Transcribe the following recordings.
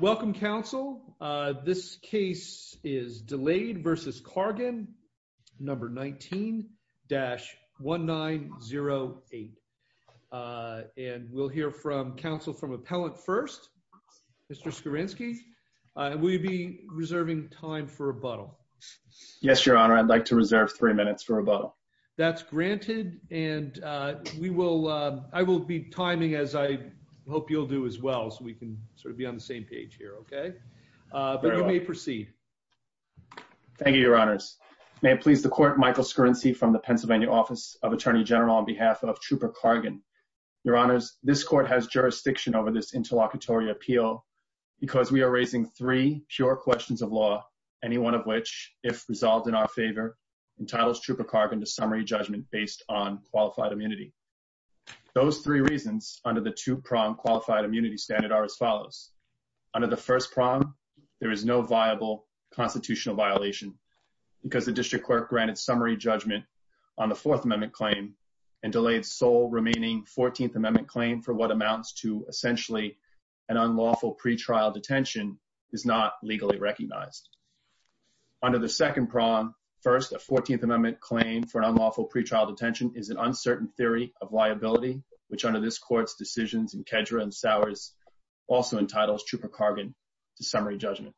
welcome counsel this case is Delade v. Cargan number 19-1908 and we'll hear from counsel from appellant first mr. Skowrinski will you be reserving time for rebuttal yes your honor I'd like to reserve three minutes for rebuttal that's granted and we will I will be timing as I hope you'll do as well so we can sort of be on the same page here okay but you may proceed thank you your honors may it please the court Michael Skowrinski from the Pennsylvania Office of Attorney General on behalf of Trooper Cargan your honors this court has jurisdiction over this interlocutory appeal because we are raising three pure questions of law any one of which if resolved in our favor entitles Trooper Cargan to summary judgment based on qualified immunity those three reasons under the two-prong qualified immunity standard are as follows under the first prong there is no viable constitutional violation because the district clerk granted summary judgment on the fourth amendment claim and delayed sole remaining 14th amendment claim for what amounts to essentially an unlawful pretrial detention is not legally recognized under the second prong first a 14th amendment claim for an unlawful pretrial detention is an uncertain theory of liability which under this courts decisions and Kedra and Sowers also entitles Trooper Cargan to summary judgment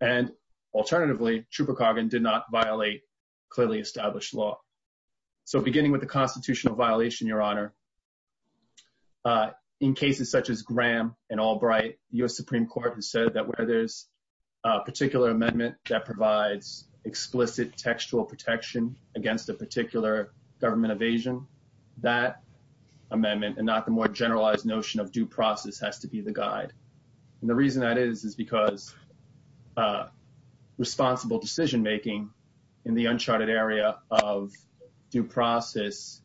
and alternatively Trooper Cargan did not violate clearly established law so beginning with the constitutional violation your honor in cases such as Graham and Albright US Supreme Court has said that where there's a particular amendment that provides explicit textual protection against a particular government evasion that amendment and not the more generalized notion of due process has to be the guide and the reason that is is because responsible decision-making in the uncharted area of due process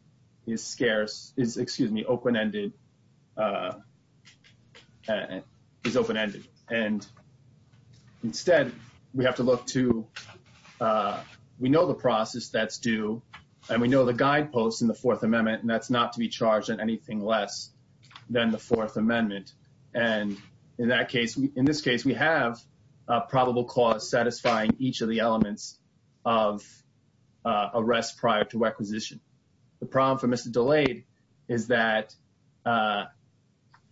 is scarce is excuse me open-ended is open-ended and instead we have to look to we know the process that's due and we know the guideposts in the Fourth Amendment and that's not to be charged in anything less than the Fourth Amendment and in that case in this case we have probable cause satisfying each of the elements of arrest prior to requisition the problem for mr. delayed is that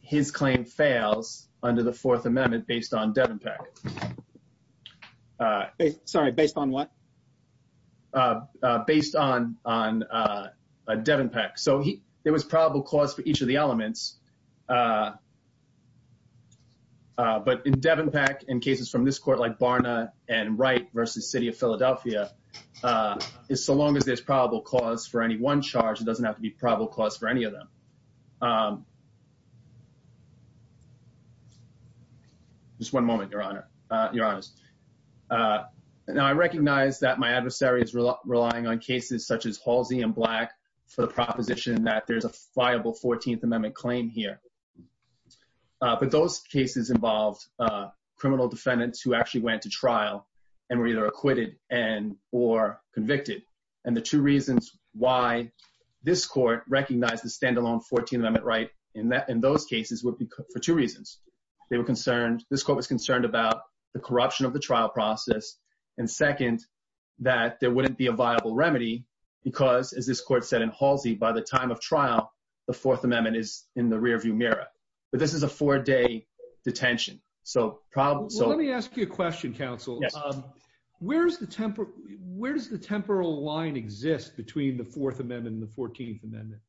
his claim fails under the Fourth Devin Peck so he there was probable cause for each of the elements but in Devin Peck in cases from this court like Barna and right versus City of Philadelphia is so long as there's probable cause for any one charge it doesn't have to be probable cause for any of them just one moment your honor your honors now I recognize that my adversary is relying on cases such as all Z and black for the proposition that there's a viable 14th Amendment claim here but those cases involved criminal defendants who actually went to trial and were either acquitted and or convicted and the two reasons why this court recognized the standalone 14 amendment right in that in those cases would be for two reasons they were concerned this quote was concerned about the corruption of the trial process and second that there wouldn't be a viable remedy because as this court said in Halsey by the time of trial the Fourth Amendment is in the rearview mirror but this is a four-day detention so problem so let me ask you a question counsel um where's the temper where does the temporal line exist between the Fourth Amendment and the 14th amendment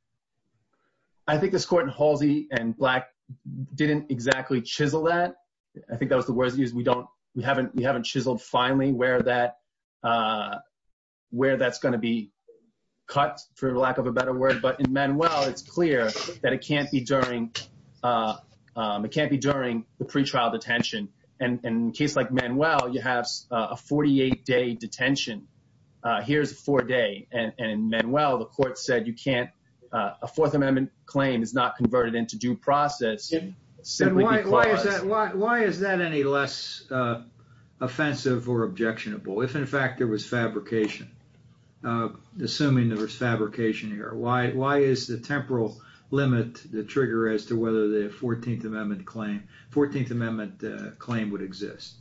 I think this court in Halsey and black didn't exactly chisel that I think that was the words use we don't we haven't we haven't chiseled finally where that where that's going to be cut for lack of a better word but in Manuel it's clear that it can't be during it can't be during the pretrial detention and in case like Manuel you have a 48-day detention here's a four-day and Manuel the court said you can't a Fourth Amendment claim is not converted into due process simply why is that why is that any less offensive or objectionable if in fact there was fabrication assuming there was fabrication here why why is the temporal limit the trigger as to whether the 14th Amendment claim 14th Amendment claim would exist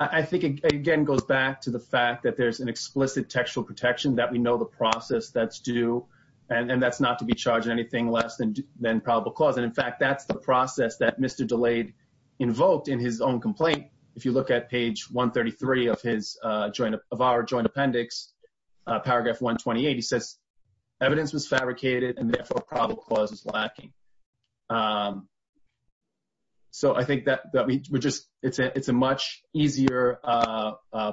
I think again goes back to the fact that there's an explicit textual protection that we know the process that's due and that's not to be charged anything less than than probable cause and in fact that's the process that mr. delayed invoked in his own complaint if you look at page 133 of his joint of our joint appendix paragraph 128 he says evidence was fabricated and therefore probable cause is lacking so I think that we just it's a it's a much easier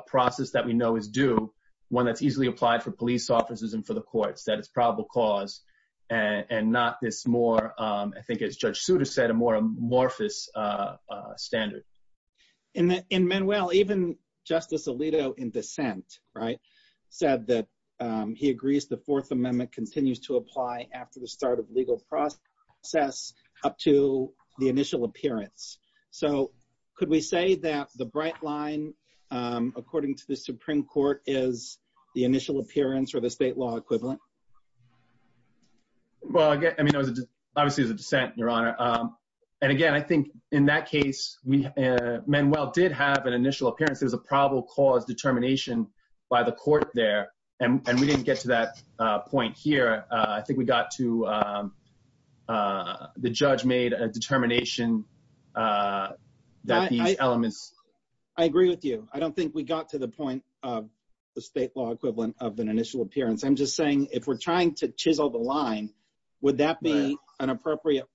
process that we know is due one that's easily applied for police officers and for the courts that it's probable cause and and not this more I think it's judge Souter said a more amorphous standard in that in well even justice Alito in dissent right said that he agrees the Fourth Amendment continues to apply after the start of legal process up to the initial appearance so could we say that the bright line according to the Supreme Court is the initial appearance or the state law equivalent well I mean I was obviously the dissent your honor and again I think in that case we men well did have an initial appearance there's a probable cause determination by the court there and we didn't get to that point here I think we got to the judge made a determination that these elements I agree with you I don't think we got to the point of the state law equivalent of an initial appearance I'm just saying if we're trying to chisel the line would that be an appropriate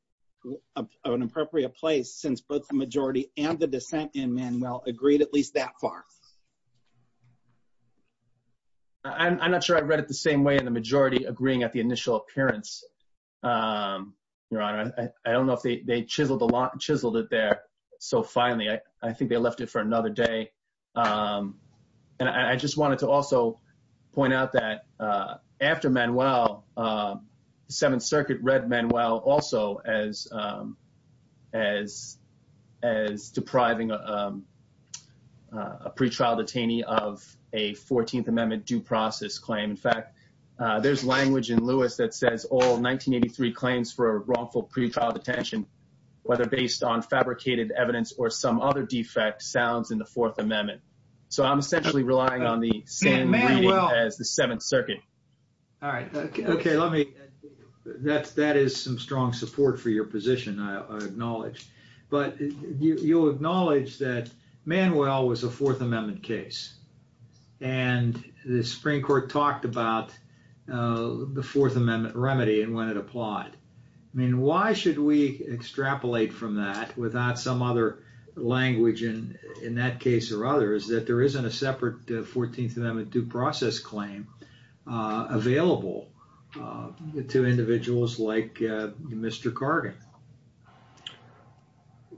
of an appropriate place since both the majority and the dissent in Manuel agreed at least that far I'm not sure I read it the same way in the majority agreeing at the initial appearance your honor I don't know if they chiseled a lot chiseled it there so finally I think they left it for another day and I just wanted to also point out that after Manuel the Seventh Circuit read Manuel also as as as depriving a pretrial detainee of a 14th amendment due process claim in fact there's language in Lewis that says all 1983 claims for a wrongful pretrial detention whether based on fabricated evidence or some other defect sounds in the Fourth Amendment circuit all right okay let me that's that is some strong support for your position I acknowledge but you'll acknowledge that Manuel was a Fourth Amendment case and the Supreme Court talked about the Fourth Amendment remedy and when it applied I mean why should we extrapolate from that without some other language and in that case or others that there isn't a separate 14th amendment due process claim available the two individuals like mr. Carter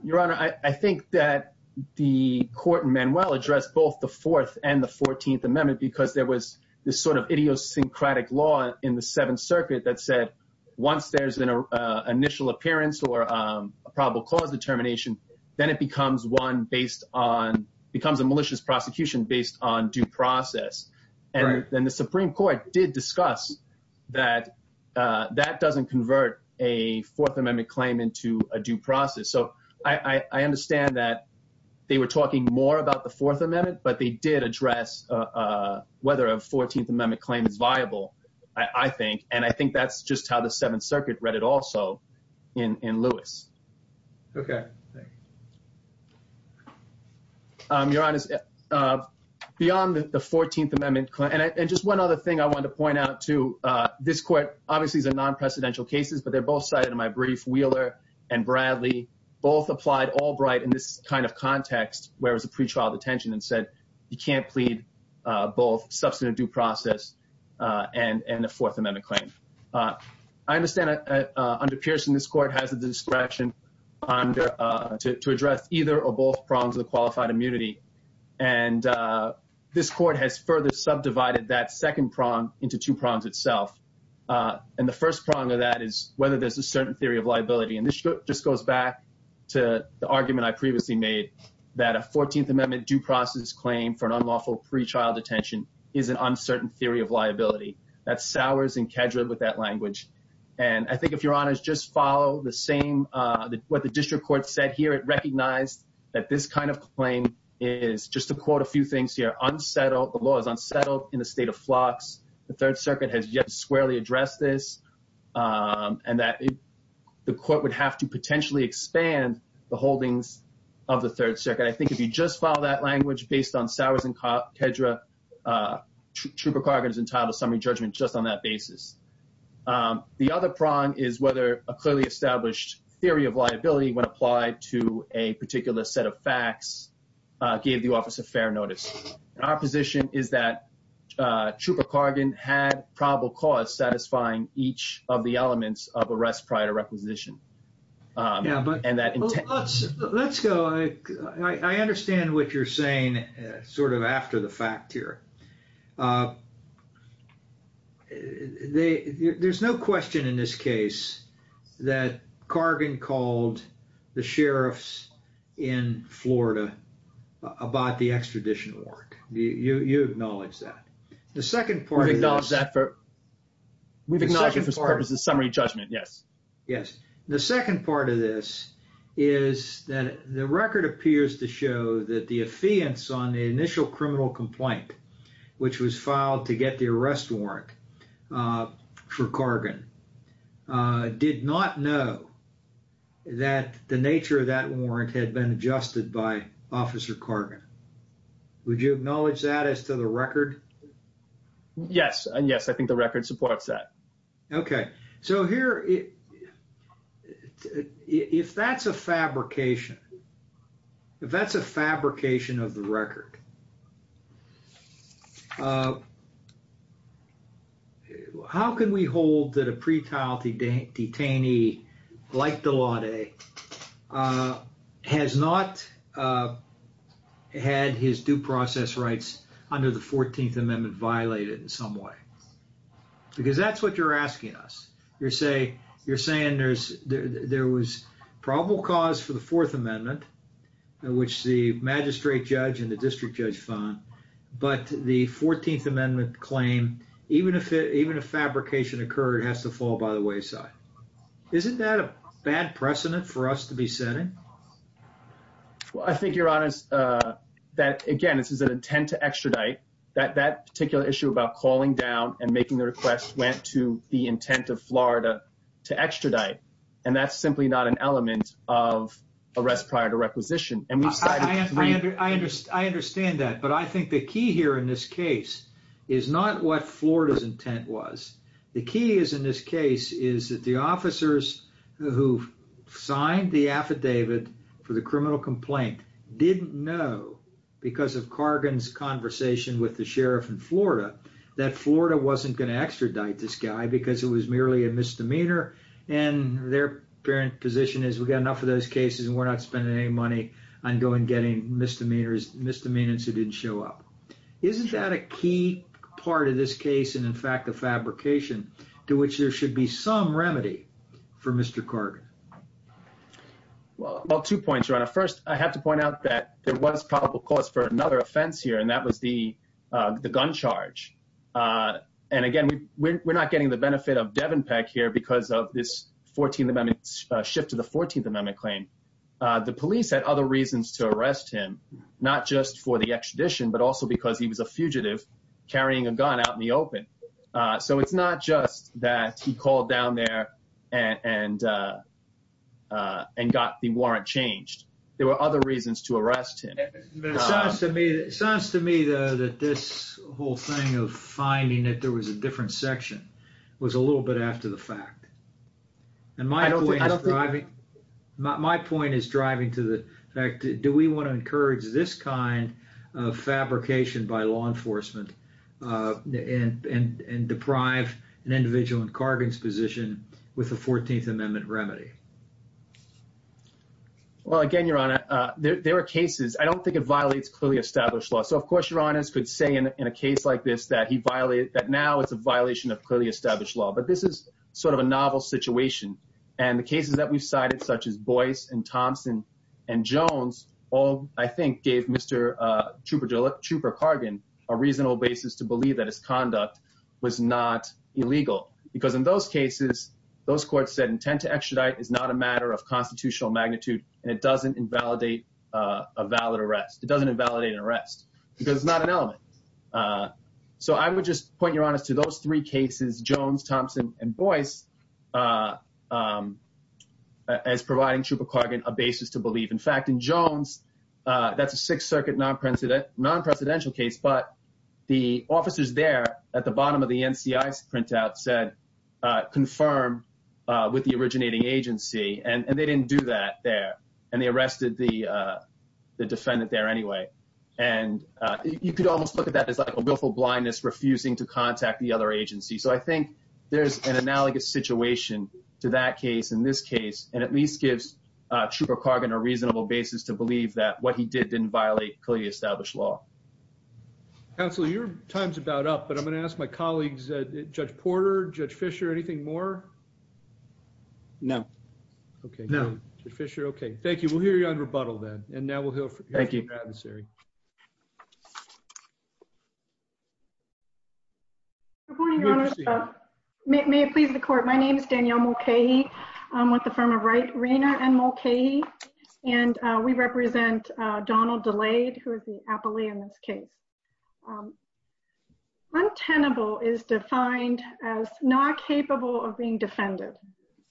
your honor I think that the court and Manuel addressed both the fourth and the 14th amendment because there was this sort of idiosyncratic law in the Seventh Circuit that said once there's been a initial appearance or a probable cause determination then it becomes one based on becomes a malicious prosecution based on due process and then the Supreme Court did discuss that that doesn't convert a Fourth Amendment claim into a due process so I understand that they were talking more about the Fourth Amendment but they did address whether a 14th amendment claim is viable I think and I think that's just how the Seventh beyond the 14th amendment and just one other thing I want to point out to this court obviously is a non-precedential cases but they're both cited in my brief Wheeler and Bradley both applied Albright in this kind of context where was a pretrial detention and said you can't plead both substantive due process and and the Fourth Amendment claim I understand under Pearson this court has a distraction under to address either or both prongs of the qualified immunity and this court has further subdivided that second prong into two prongs itself and the first prong of that is whether there's a certain theory of liability and this just goes back to the argument I previously made that a 14th amendment due process claim for an unlawful pretrial detention is an uncertain theory of liability that's Sowers and Kedrid with that language and I think if your honor's just follow the same what the district court said here it kind of claim is just to quote a few things here unsettled the law is unsettled in a state of flux the Third Circuit has yet squarely addressed this and that the court would have to potentially expand the holdings of the Third Circuit I think if you just follow that language based on Sowers and Kedrid trooper cargons entitled summary judgment just on that basis the other prong is whether a clearly established theory of liability when applied to a tax gave the office a fair notice our position is that trooper Cargan had probable cause satisfying each of the elements of arrest prior to requisition yeah but and that let's go I understand what you're saying sort of after the fact here they there's no question in this case that Cargan called the about the extradition work you you acknowledge that the second part of dollars that for we've ignored his purpose of summary judgment yes yes the second part of this is that the record appears to show that the affiance on the initial criminal complaint which was filed to get the arrest warrant for officer Carter would you acknowledge that as to the record yes and yes I think the record supports that okay so here if that's a fabrication if that's a fabrication of the record how can we hold that a pretrial to date detainee like the law today has not had his due process rights under the 14th Amendment violated in some way because that's what you're asking us you're saying you're saying there's there was probable cause for the Fourth Amendment which the magistrate judge and the district judge found but the 14th Amendment claim even if it even a fabrication occurred has to fall by the wayside isn't that a bad precedent for us to be setting well I think you're honest that again this is an intent to extradite that that particular issue about calling down and making the request went to the intent of Florida to extradite and that's simply not an element of arrest prior to requisition and I understand that but I was intent was the key is in this case is that the officers who signed the affidavit for the criminal complaint didn't know because of Cargan's conversation with the sheriff in Florida that Florida wasn't going to extradite this guy because it was merely a misdemeanor and their parent position is we've got enough of those cases and we're not spending any money on going getting misdemeanors misdemeanors who didn't show up isn't that a key part of this case and in fact the fabrication to which there should be some remedy for mr. Carter well well two points are on a first I have to point out that there was probable cause for another offense here and that was the gun charge and again we're not getting the benefit of Devon Peck here because of this 14th Amendment shift to the 14th Amendment claim the police had other reasons to arrest him not just for the extradition but also because he was a fugitive carrying a gun out in the open so it's not just that he called down there and and and got the warrant changed there were other reasons to arrest him to me it sounds to me though that this whole thing of finding that there was a different section was a little bit after the fact and my don't we have driving not my point is driving to the fact do we want to encourage this kind of fabrication by law enforcement and and and deprive an individual in Cargill's position with the 14th Amendment remedy well again your honor there are cases I don't think it violates clearly established law so of course your honor's could say in a case like this that he violated that now it's a violation of clearly established law but this is sort of a novel situation and the cases that we've cited such as Boyce and Thompson and Jones all I think gave Mr. Trooper Cargan a reasonable basis to believe that his conduct was not illegal because in those cases those courts said intent to extradite is not a matter of constitutional magnitude and it doesn't invalidate a valid arrest it doesn't invalidate an arrest because it's not an element so I would just point your honor's to those three cases Jones Thompson and Boyce as providing Trooper Cargan a basis to believe in fact in Jones that's a Sixth Circuit non-president non-presidential case but the officers there at the bottom of the NCI's printout said confirm with the originating agency and they didn't do that there and they arrested the defendant there anyway and you could almost look at that as like a willful blindness refusing to contact the other agency so I think there's an analogous situation to that case in this case and at least gives Trooper Cargan a reasonable basis to believe that what he did didn't violate clearly established law. Counselor your time's about up but I'm gonna ask my colleagues Judge Porter, Judge Fischer anything more? No. Okay no Fischer okay thank you we'll hear you on rebuttal then and now we'll hear from you. Thank you. May it please the court my name is Danielle Mulcahy I'm with the firm of Wright Arena and Mulcahy and we represent Donald Delayed who is the appellee in this case. Untenable is defined as not capable of being defended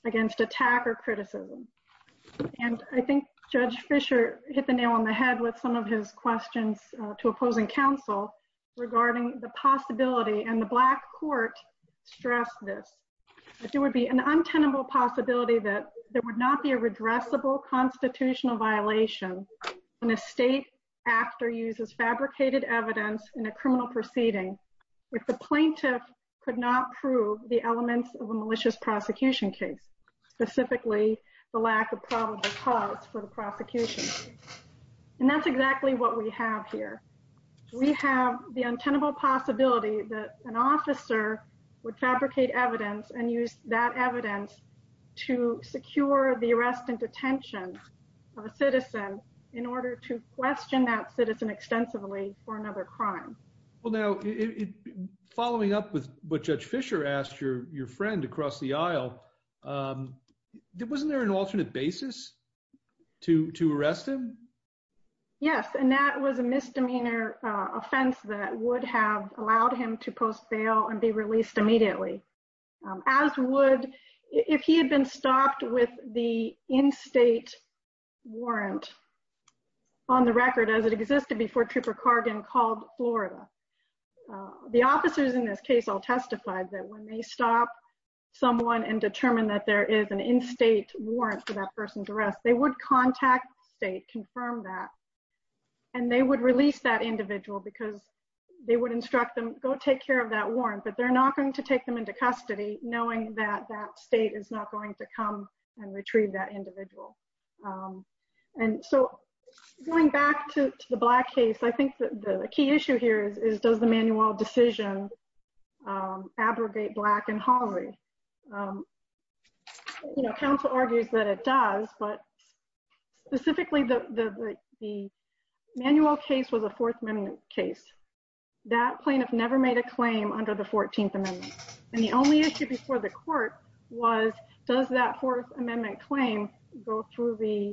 against attack or criticism and I think Judge Fischer hit the nail on the head with some of his questions to opposing counsel regarding the possibility and the black court stressed this but there would be an untenable possibility that there would not be a redressable constitutional violation when a state actor uses fabricated evidence in a criminal proceeding if the plaintiff could not prove the elements of a malicious prosecution case specifically the lack of probable cause for the prosecution and that's exactly what we have here. We have the untenable possibility that an officer would fabricate evidence and use that evidence to secure the arrest and detention of a citizen in order to question that citizen extensively for another crime. Well now following up with what Judge Fischer asked your your friend across the aisle wasn't there an alternate basis to to arrest him? Yes and that was a misdemeanor offense that would have allowed him to post bail and be released immediately as would if he had been stopped with the in-state warrant on the record as it existed before Trooper Cargan called Florida. The officers in Florida would call up someone and determine that there is an in-state warrant for that person's arrest they would contact state confirm that and they would release that individual because they would instruct them go take care of that warrant but they're not going to take them into custody knowing that that state is not going to come and retrieve that individual and so going back to the black case I think the key issue here is does the manual decision abrogate black and halloween you know counsel argues that it does but specifically the manual case was a fourth amendment case that plaintiff never made a claim under the 14th amendment and the only issue before the court was does that fourth amendment claim go through the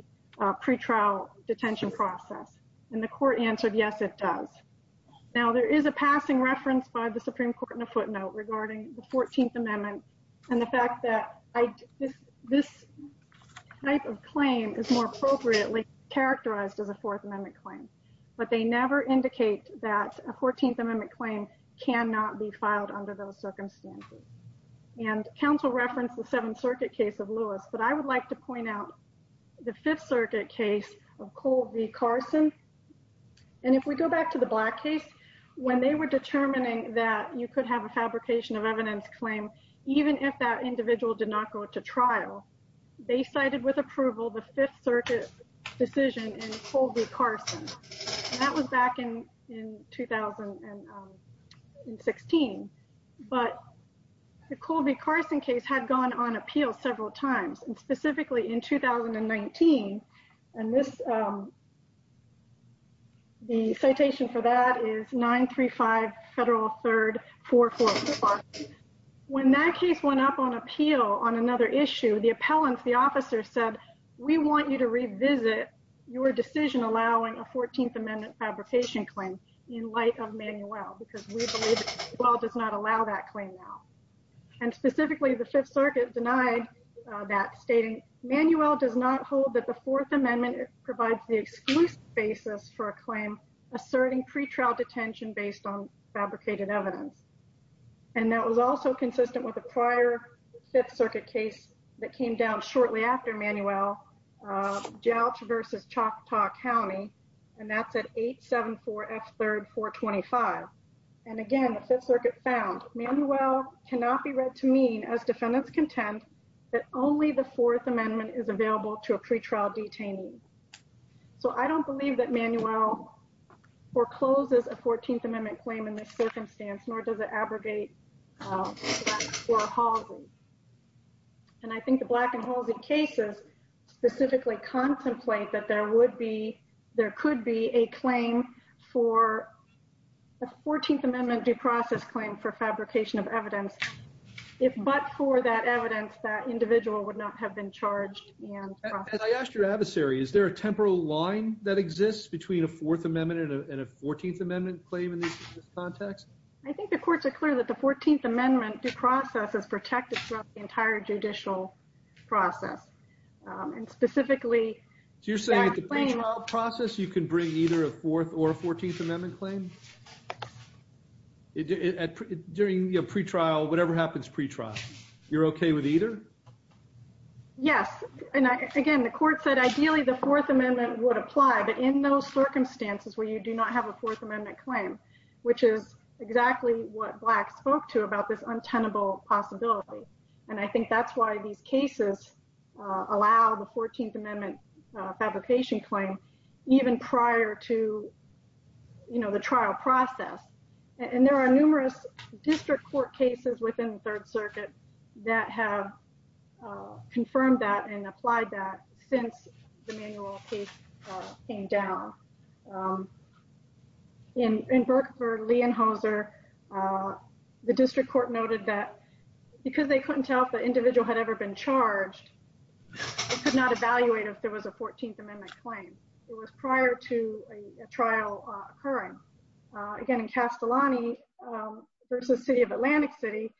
pretrial detention process and the court answered yes it does now there is a passing reference by the Supreme Court in a footnote regarding the 14th amendment and the fact that I this this type of claim is more appropriately characterized as a fourth amendment claim but they never indicate that a 14th amendment claim cannot be filed under those circumstances and counsel referenced the Seventh Circuit case of Lewis but I would like to point out the Fifth Circuit case of Colby Carson and if we go back to the black case when they were determining that you could have a fabrication of evidence claim even if that individual did not go to trial they cited with approval the Fifth Circuit decision in Colby Carson that was back in in 2016 but the Colby Carson case had gone on appeal several times and specifically in 2019 and this the federal third four four when that case went up on appeal on another issue the appellants the officer said we want you to revisit your decision allowing a 14th amendment fabrication claim in light of Manuel does not allow that claim now and specifically the Fifth Circuit denied that stating Manuel does not hold that the Fourth Amendment provides the exclusive basis for a claim asserting pretrial detention based on fabricated evidence and that was also consistent with a prior Fifth Circuit case that came down shortly after Manuel jouch versus Choctaw County and that's at 8 7 4 f 3rd 425 and again the Fifth Circuit found Manuel cannot be read to mean as defendants contend that only the Fourth Amendment is available to a pretrial detainee so I don't believe that Manuel forecloses a 14th amendment claim in this circumstance nor does it abrogate and I think the black and hall's in cases specifically contemplate that there would be there could be a claim for a 14th amendment due process claim for fabrication of evidence if but for that evidence that individual would not have been charged I asked your adversary is there a line that exists between a Fourth Amendment and a 14th amendment claim in this context I think the courts are clear that the 14th amendment due process is protected throughout the entire judicial process and specifically you're saying process you can bring either a fourth or a 14th amendment claim during a pretrial whatever happens pretrial you're okay with either yes and would apply but in those circumstances where you do not have a fourth amendment claim which is exactly what blacks spoke to about this untenable possibility and I think that's why these cases allow the 14th amendment fabrication claim even prior to you know the trial process and there are numerous district court cases within the Third Circuit that have confirmed that and applied that since came down in Burke for Lee and hoser the district court noted that because they couldn't tell if the individual had ever been charged could not evaluate if there was a 14th amendment claim it was prior to a trial occurring again in Castellani versus City of Atlantic City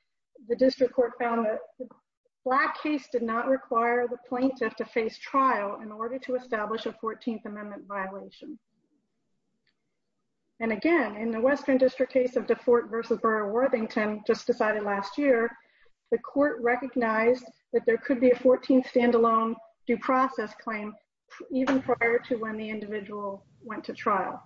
the district court found that black case did not require the plaintiff to face trial in order to establish a 14th amendment violation and again in the Western District case of the Fort versus Burr Worthington just decided last year the court recognized that there could be a 14th standalone due process claim even prior to when the individual went to trial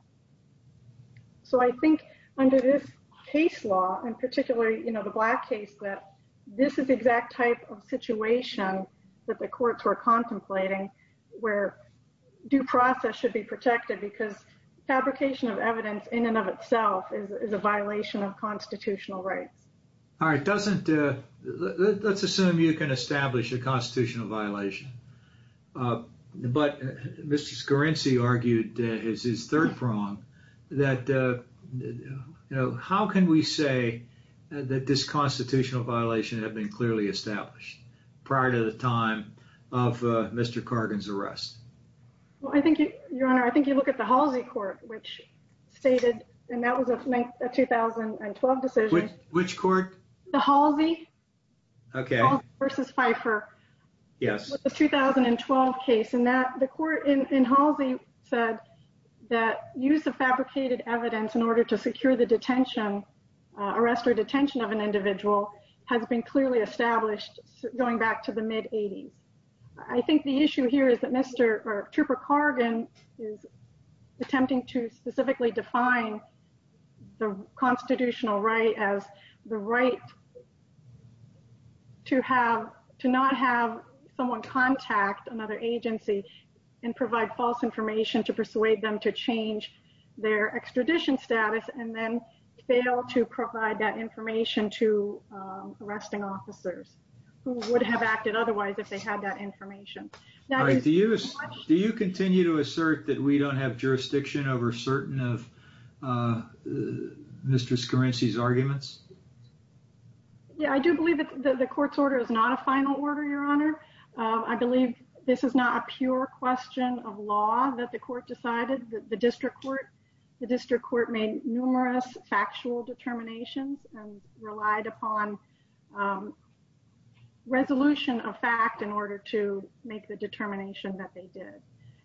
so I think under this case law and particularly you know the black case that this is exact type of situation that the courts were contemplating where due process should be protected because fabrication of evidence in and of itself is a violation of constitutional rights all right doesn't let's assume you can establish a constitutional violation but mr. Scarrinci argued is his third prong that you know how can we say that this constitutional violation have been clearly established prior to the time of mr. Cargins arrest well I think your honor I think you look at the Halsey court which stated and that was a 2012 decision which court the Halsey okay versus Pfeiffer yes the 2012 case and the court in Halsey said that use of fabricated evidence in order to secure the detention arrest or detention of an individual has been clearly established going back to the mid 80s I think the issue here is that mr. trooper Cargan is attempting to specifically define the constitutional right as the right to have to not have someone contact another agency and provide false information to persuade them to change their extradition status and then fail to provide that information to arresting officers who would have acted otherwise if they had that information do you continue to assert that we don't have jurisdiction over certain of mr. Scarrinci's arguments yeah I do believe that the court's order is not a final order your honor I believe this is not a pure question of law that the court decided the district court the district court made numerous factual determinations and relied upon resolution of fact in order to make the determination that they did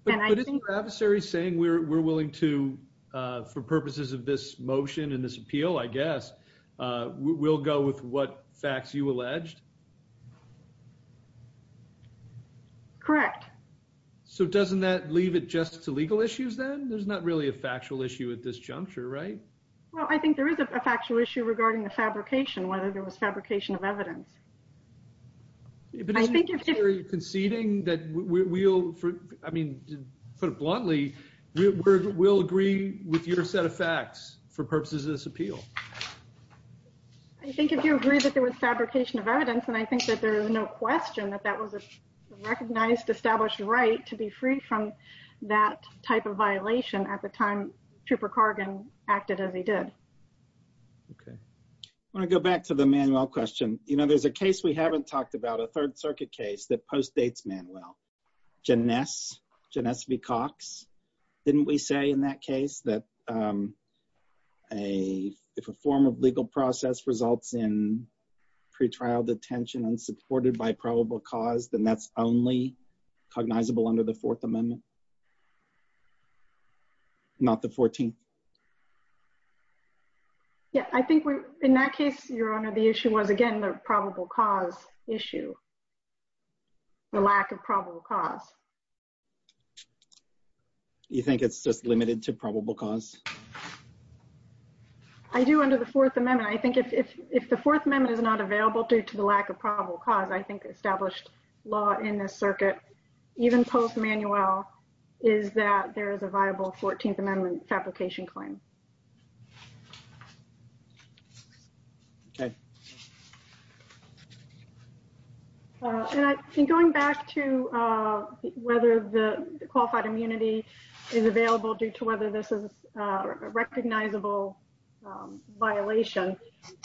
and I think the adversary saying we're willing to for purposes of this motion and this I guess we'll go with what facts you alleged correct so doesn't that leave it just to legal issues then there's not really a factual issue at this juncture right well I think there is a factual issue regarding the fabrication whether there was fabrication of evidence I think if you're conceding that we'll I mean put it bluntly we'll agree with your set of facts for purposes of this I think if you agree that there was fabrication of evidence and I think that there is no question that that was a recognized established right to be free from that type of violation at the time trooper Cargan acted as he did okay when I go back to the manual question you know there's a case we haven't talked about a Third Circuit case that postdates Manuel Janice Janice V Cox didn't we say in that case that a form of legal process results in pretrial detention and supported by probable cause then that's only cognizable under the Fourth Amendment not the 14th yeah I think we're in that case your honor the you think it's just limited to probable cause I do under the Fourth Amendment I think if if the Fourth Amendment is not available due to the lack of probable cause I think established law in this circuit even post Manuel is that there is a viable 14th Amendment fabrication claim okay and I think going back to whether the qualified immunity is available due to whether this is a recognizable violation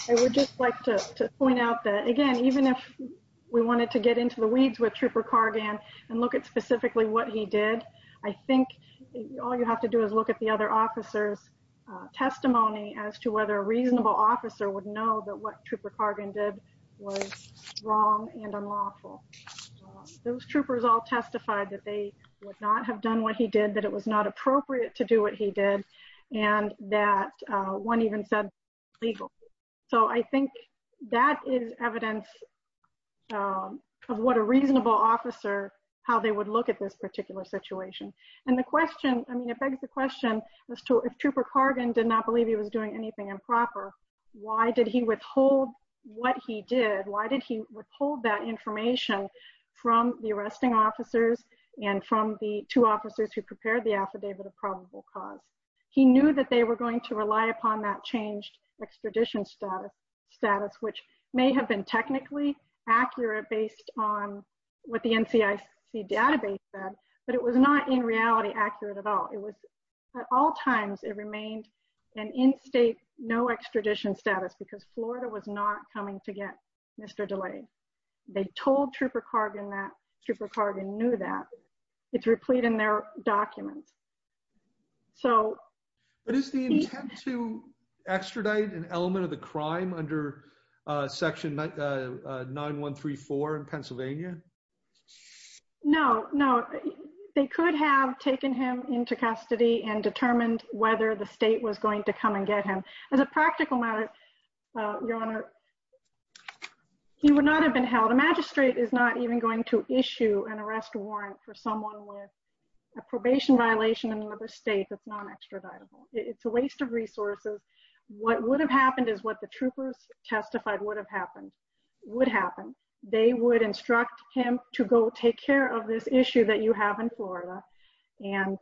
I would just like to point out that again even if we wanted to get into the weeds with trooper Cargan and look at specifically what he did I think all you have to do is look at the other officers testimony as to whether a reasonable officer would know that what trooper Cargan did was wrong and unlawful those troopers all testified that they would not have done what he did that it was not appropriate to do what he did and that one even said legal so I think that is evidence of what a reasonable officer how they would look at this particular situation and the question I mean it begs the question as to if trooper Cargan did not believe he was doing anything improper why did he withhold what he did why did he withhold that information from the arresting officers and from the two officers who prepared the affidavit of probable cause he knew that they were going to rely upon that changed extradition status status which may have been technically accurate based on what the NCIC database said but it was not in reality accurate at all it was at all times it remained an in-state no extradition status because Florida was not coming to get mr. delay they told trooper Cargan that trooper Cargan knew that it's replete in their documents so what is the intent to extradite an element of the crime under section 9 1 3 4 in Pennsylvania no no they could have taken him into custody and determined whether the state was going to come and get him as a practical matter your honor he would not have been held a magistrate is not even going to issue an arrest warrant for someone with a probation violation in another state that's not extraditable it's a waste of resources what would have happened is what the troopers testified would have happened would happen they would instruct him to go take care of this issue that you have in Florida and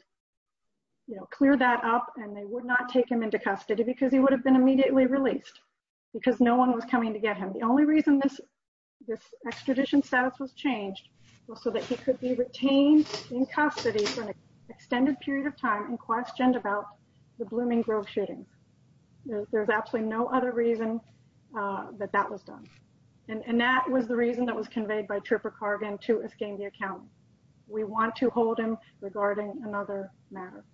you know clear that up and they would not take him into custody because he would have been immediately released because no one was coming to get him the only reason this this extradition status was changed so that he could be retained in custody for an extended period of time and questioned about the Blooming Grove shootings there's absolutely no other reason that that was done and and that was the reason that was conveyed by trooper Cargan to escape the account we want to hold him regarding another matter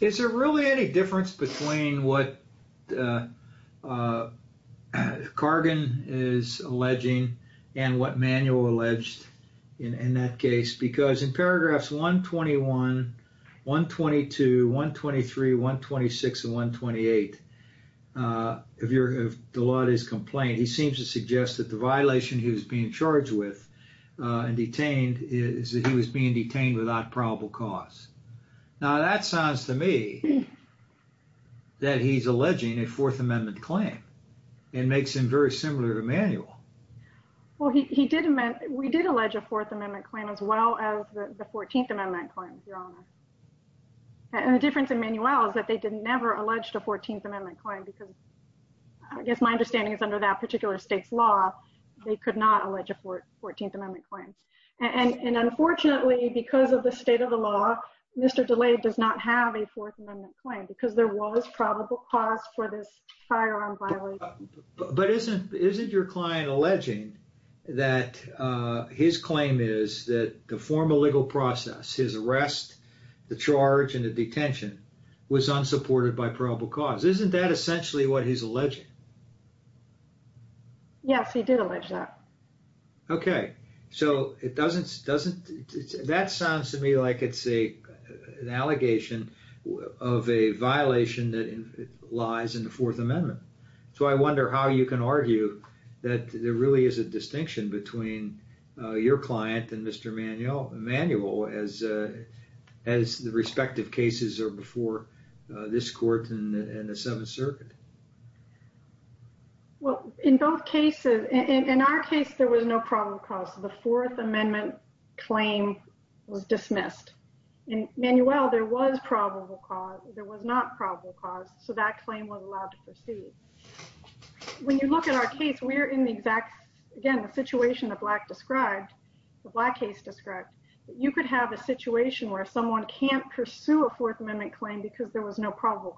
is there really any difference between what Cargan is alleging and what manual alleged in that case because in paragraphs 121 122 123 126 and 128 if you're a lot his complaint he seems to suggest that the violation he was being charged with and detained is that he was being detained without probable cause now that sounds to me that he's alleging a Fourth Amendment claim it makes him very similar to manual well he didn't meant we did allege a Fourth Amendment claim as well as the Fourteenth Amendment claims your honor and the difference in manuals that they didn't never alleged a Fourteenth Amendment claim because I guess my understanding is under that particular state's law they could not allege a fourth 14th Amendment claims and and unfortunately because of the state of the law mr. delayed does not have a Fourth Amendment claim because there was probable cause for this firearm but isn't isn't your client alleging that his claim is that the formal legal process his arrest the charge and the detention was unsupported by probable cause isn't that essentially what he's alleged yes he did allege that okay so it doesn't doesn't that sounds to me like it's a an allegation of a violation that lies in the Fourth Amendment so I wonder how you can argue that there really is a distinction between your client and mr. manual manual as as the in the Seventh Circuit well in both cases in our case there was no problem cause the Fourth Amendment claim was dismissed and Manuel there was probable cause there was not probable cause so that claim was allowed to proceed when you look at our case we're in the exact again the situation that black described the black case described you could have a situation where someone can't pursue a probable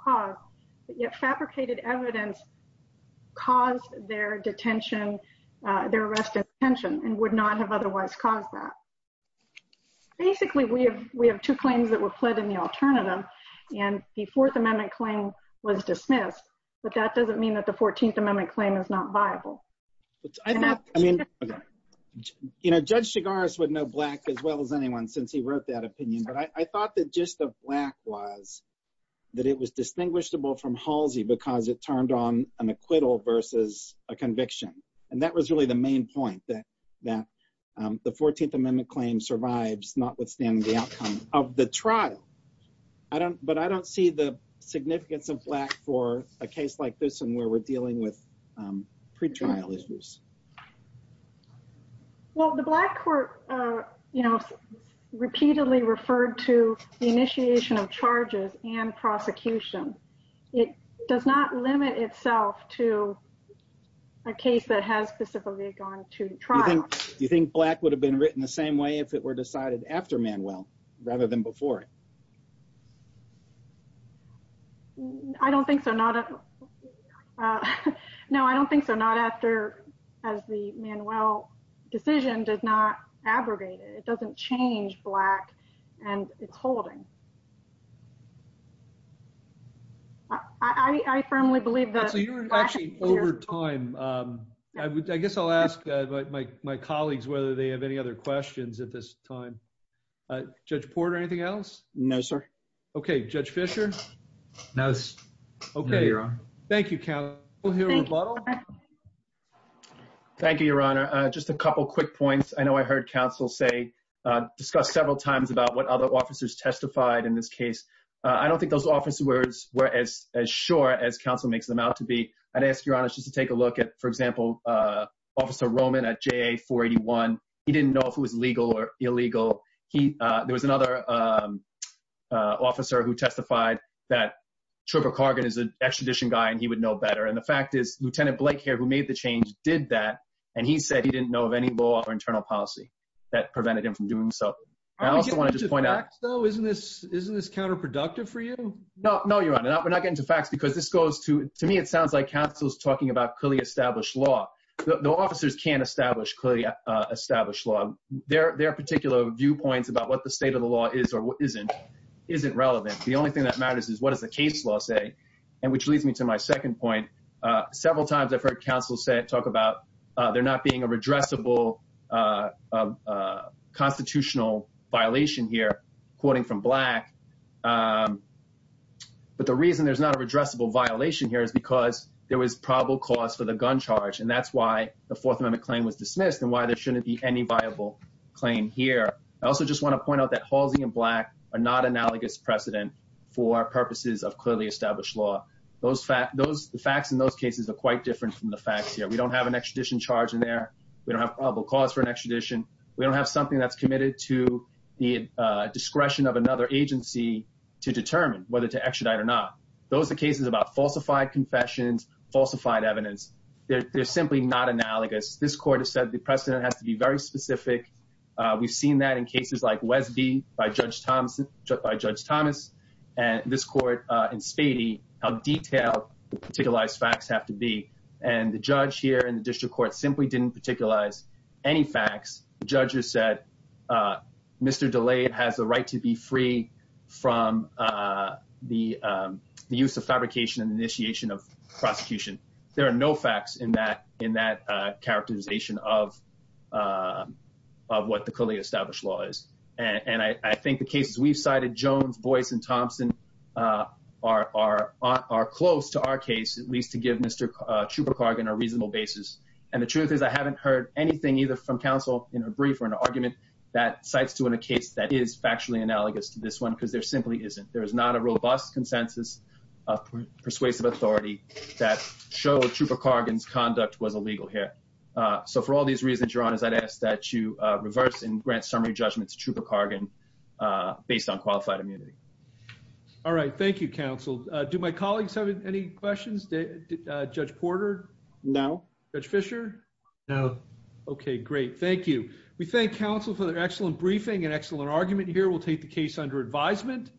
cause but yet fabricated evidence caused their detention their arrest intention and would not have otherwise caused that basically we have we have two claims that were pled in the alternative and the Fourth Amendment claim was dismissed but that doesn't mean that the 14th Amendment claim is not viable you know judge cigars would know black as well as anyone since he was distinguishable from Halsey because it turned on an acquittal versus a conviction and that was really the main point that that the 14th Amendment claim survives notwithstanding the outcome of the trial I don't but I don't see the significance of black for a case like this and where we're dealing with pretrial issues well the black court you know repeatedly referred to the it does not limit itself to a case that has specifically gone to the trial do you think black would have been written the same way if it were decided after Manuel rather than before I don't think so not no I don't think so not after as the Manuel decision did not abrogate it it doesn't change black and it's holding I firmly believe that so you're actually over time I guess I'll ask my colleagues whether they have any other questions at this time judge Porter anything else no sir okay judge Fisher no okay you're on Thank You count thank you your honor just a couple quick points I know I heard counsel say discuss several times about what other officers testified in this case I don't think those officers were as sure as counsel makes them out to be I'd ask your honors just to take a look at for example officer Roman at JA 481 he didn't know if it was legal or illegal he there was another officer who testified that Trevor Cargan is an extradition guy and he would know better and the fact is lieutenant Blake here who made the change did that and he said he didn't know of any law or internal policy that prevented him from doing so though isn't this isn't this counterproductive for you no no you're on it up we're not getting two facts because this goes to to me it sounds like councils talking about clearly established law the officers can't establish clearly established law their their particular viewpoints about what the state of the law is or what isn't isn't relevant the only thing that matters is what is the case law say and which leads me to my second point several times I've heard counsel said talk about they're not being a addressable constitutional violation here quoting from black but the reason there's not a redressable violation here is because there was probable cause for the gun charge and that's why the Fourth Amendment claim was dismissed and why there shouldn't be any viable claim here I also just want to point out that Halsey and black are not analogous precedent for purposes of clearly established law those fact those the facts in those cases are quite different from the facts here we don't have an extradition charge in there we don't have probable cause for an extradition we don't have something that's committed to the discretion of another agency to determine whether to extradite or not those are cases about falsified confessions falsified evidence they're simply not analogous this court has said the precedent has to be very specific we've seen that in cases like Wesby by Judge Thompson by Judge Thomas and this court in Spady how detailed the particular facts have to be and the judge here in the district court simply didn't particularize any facts judges said Mr. DeLay has the right to be free from the use of fabrication and initiation of prosecution there are no facts in that in that characterization of of what the clearly established law is and I think the cases we've cited Jones Boyce and are are are close to our case at least to give mr. Chupacargan a reasonable basis and the truth is I haven't heard anything either from counsel in a brief or an argument that cites to in a case that is factually analogous to this one because there simply isn't there is not a robust consensus of persuasive authority that showed Chupacargan's conduct was illegal here so for all these reasons your honors I'd ask that you reverse and grant summary judgments to Chupacargan based on qualified immunity all right thank you counsel do my colleagues have any questions did Judge Porter no Judge Fisher no okay great thank you we thank counsel for their excellent briefing an excellent argument here we'll take the case under advisement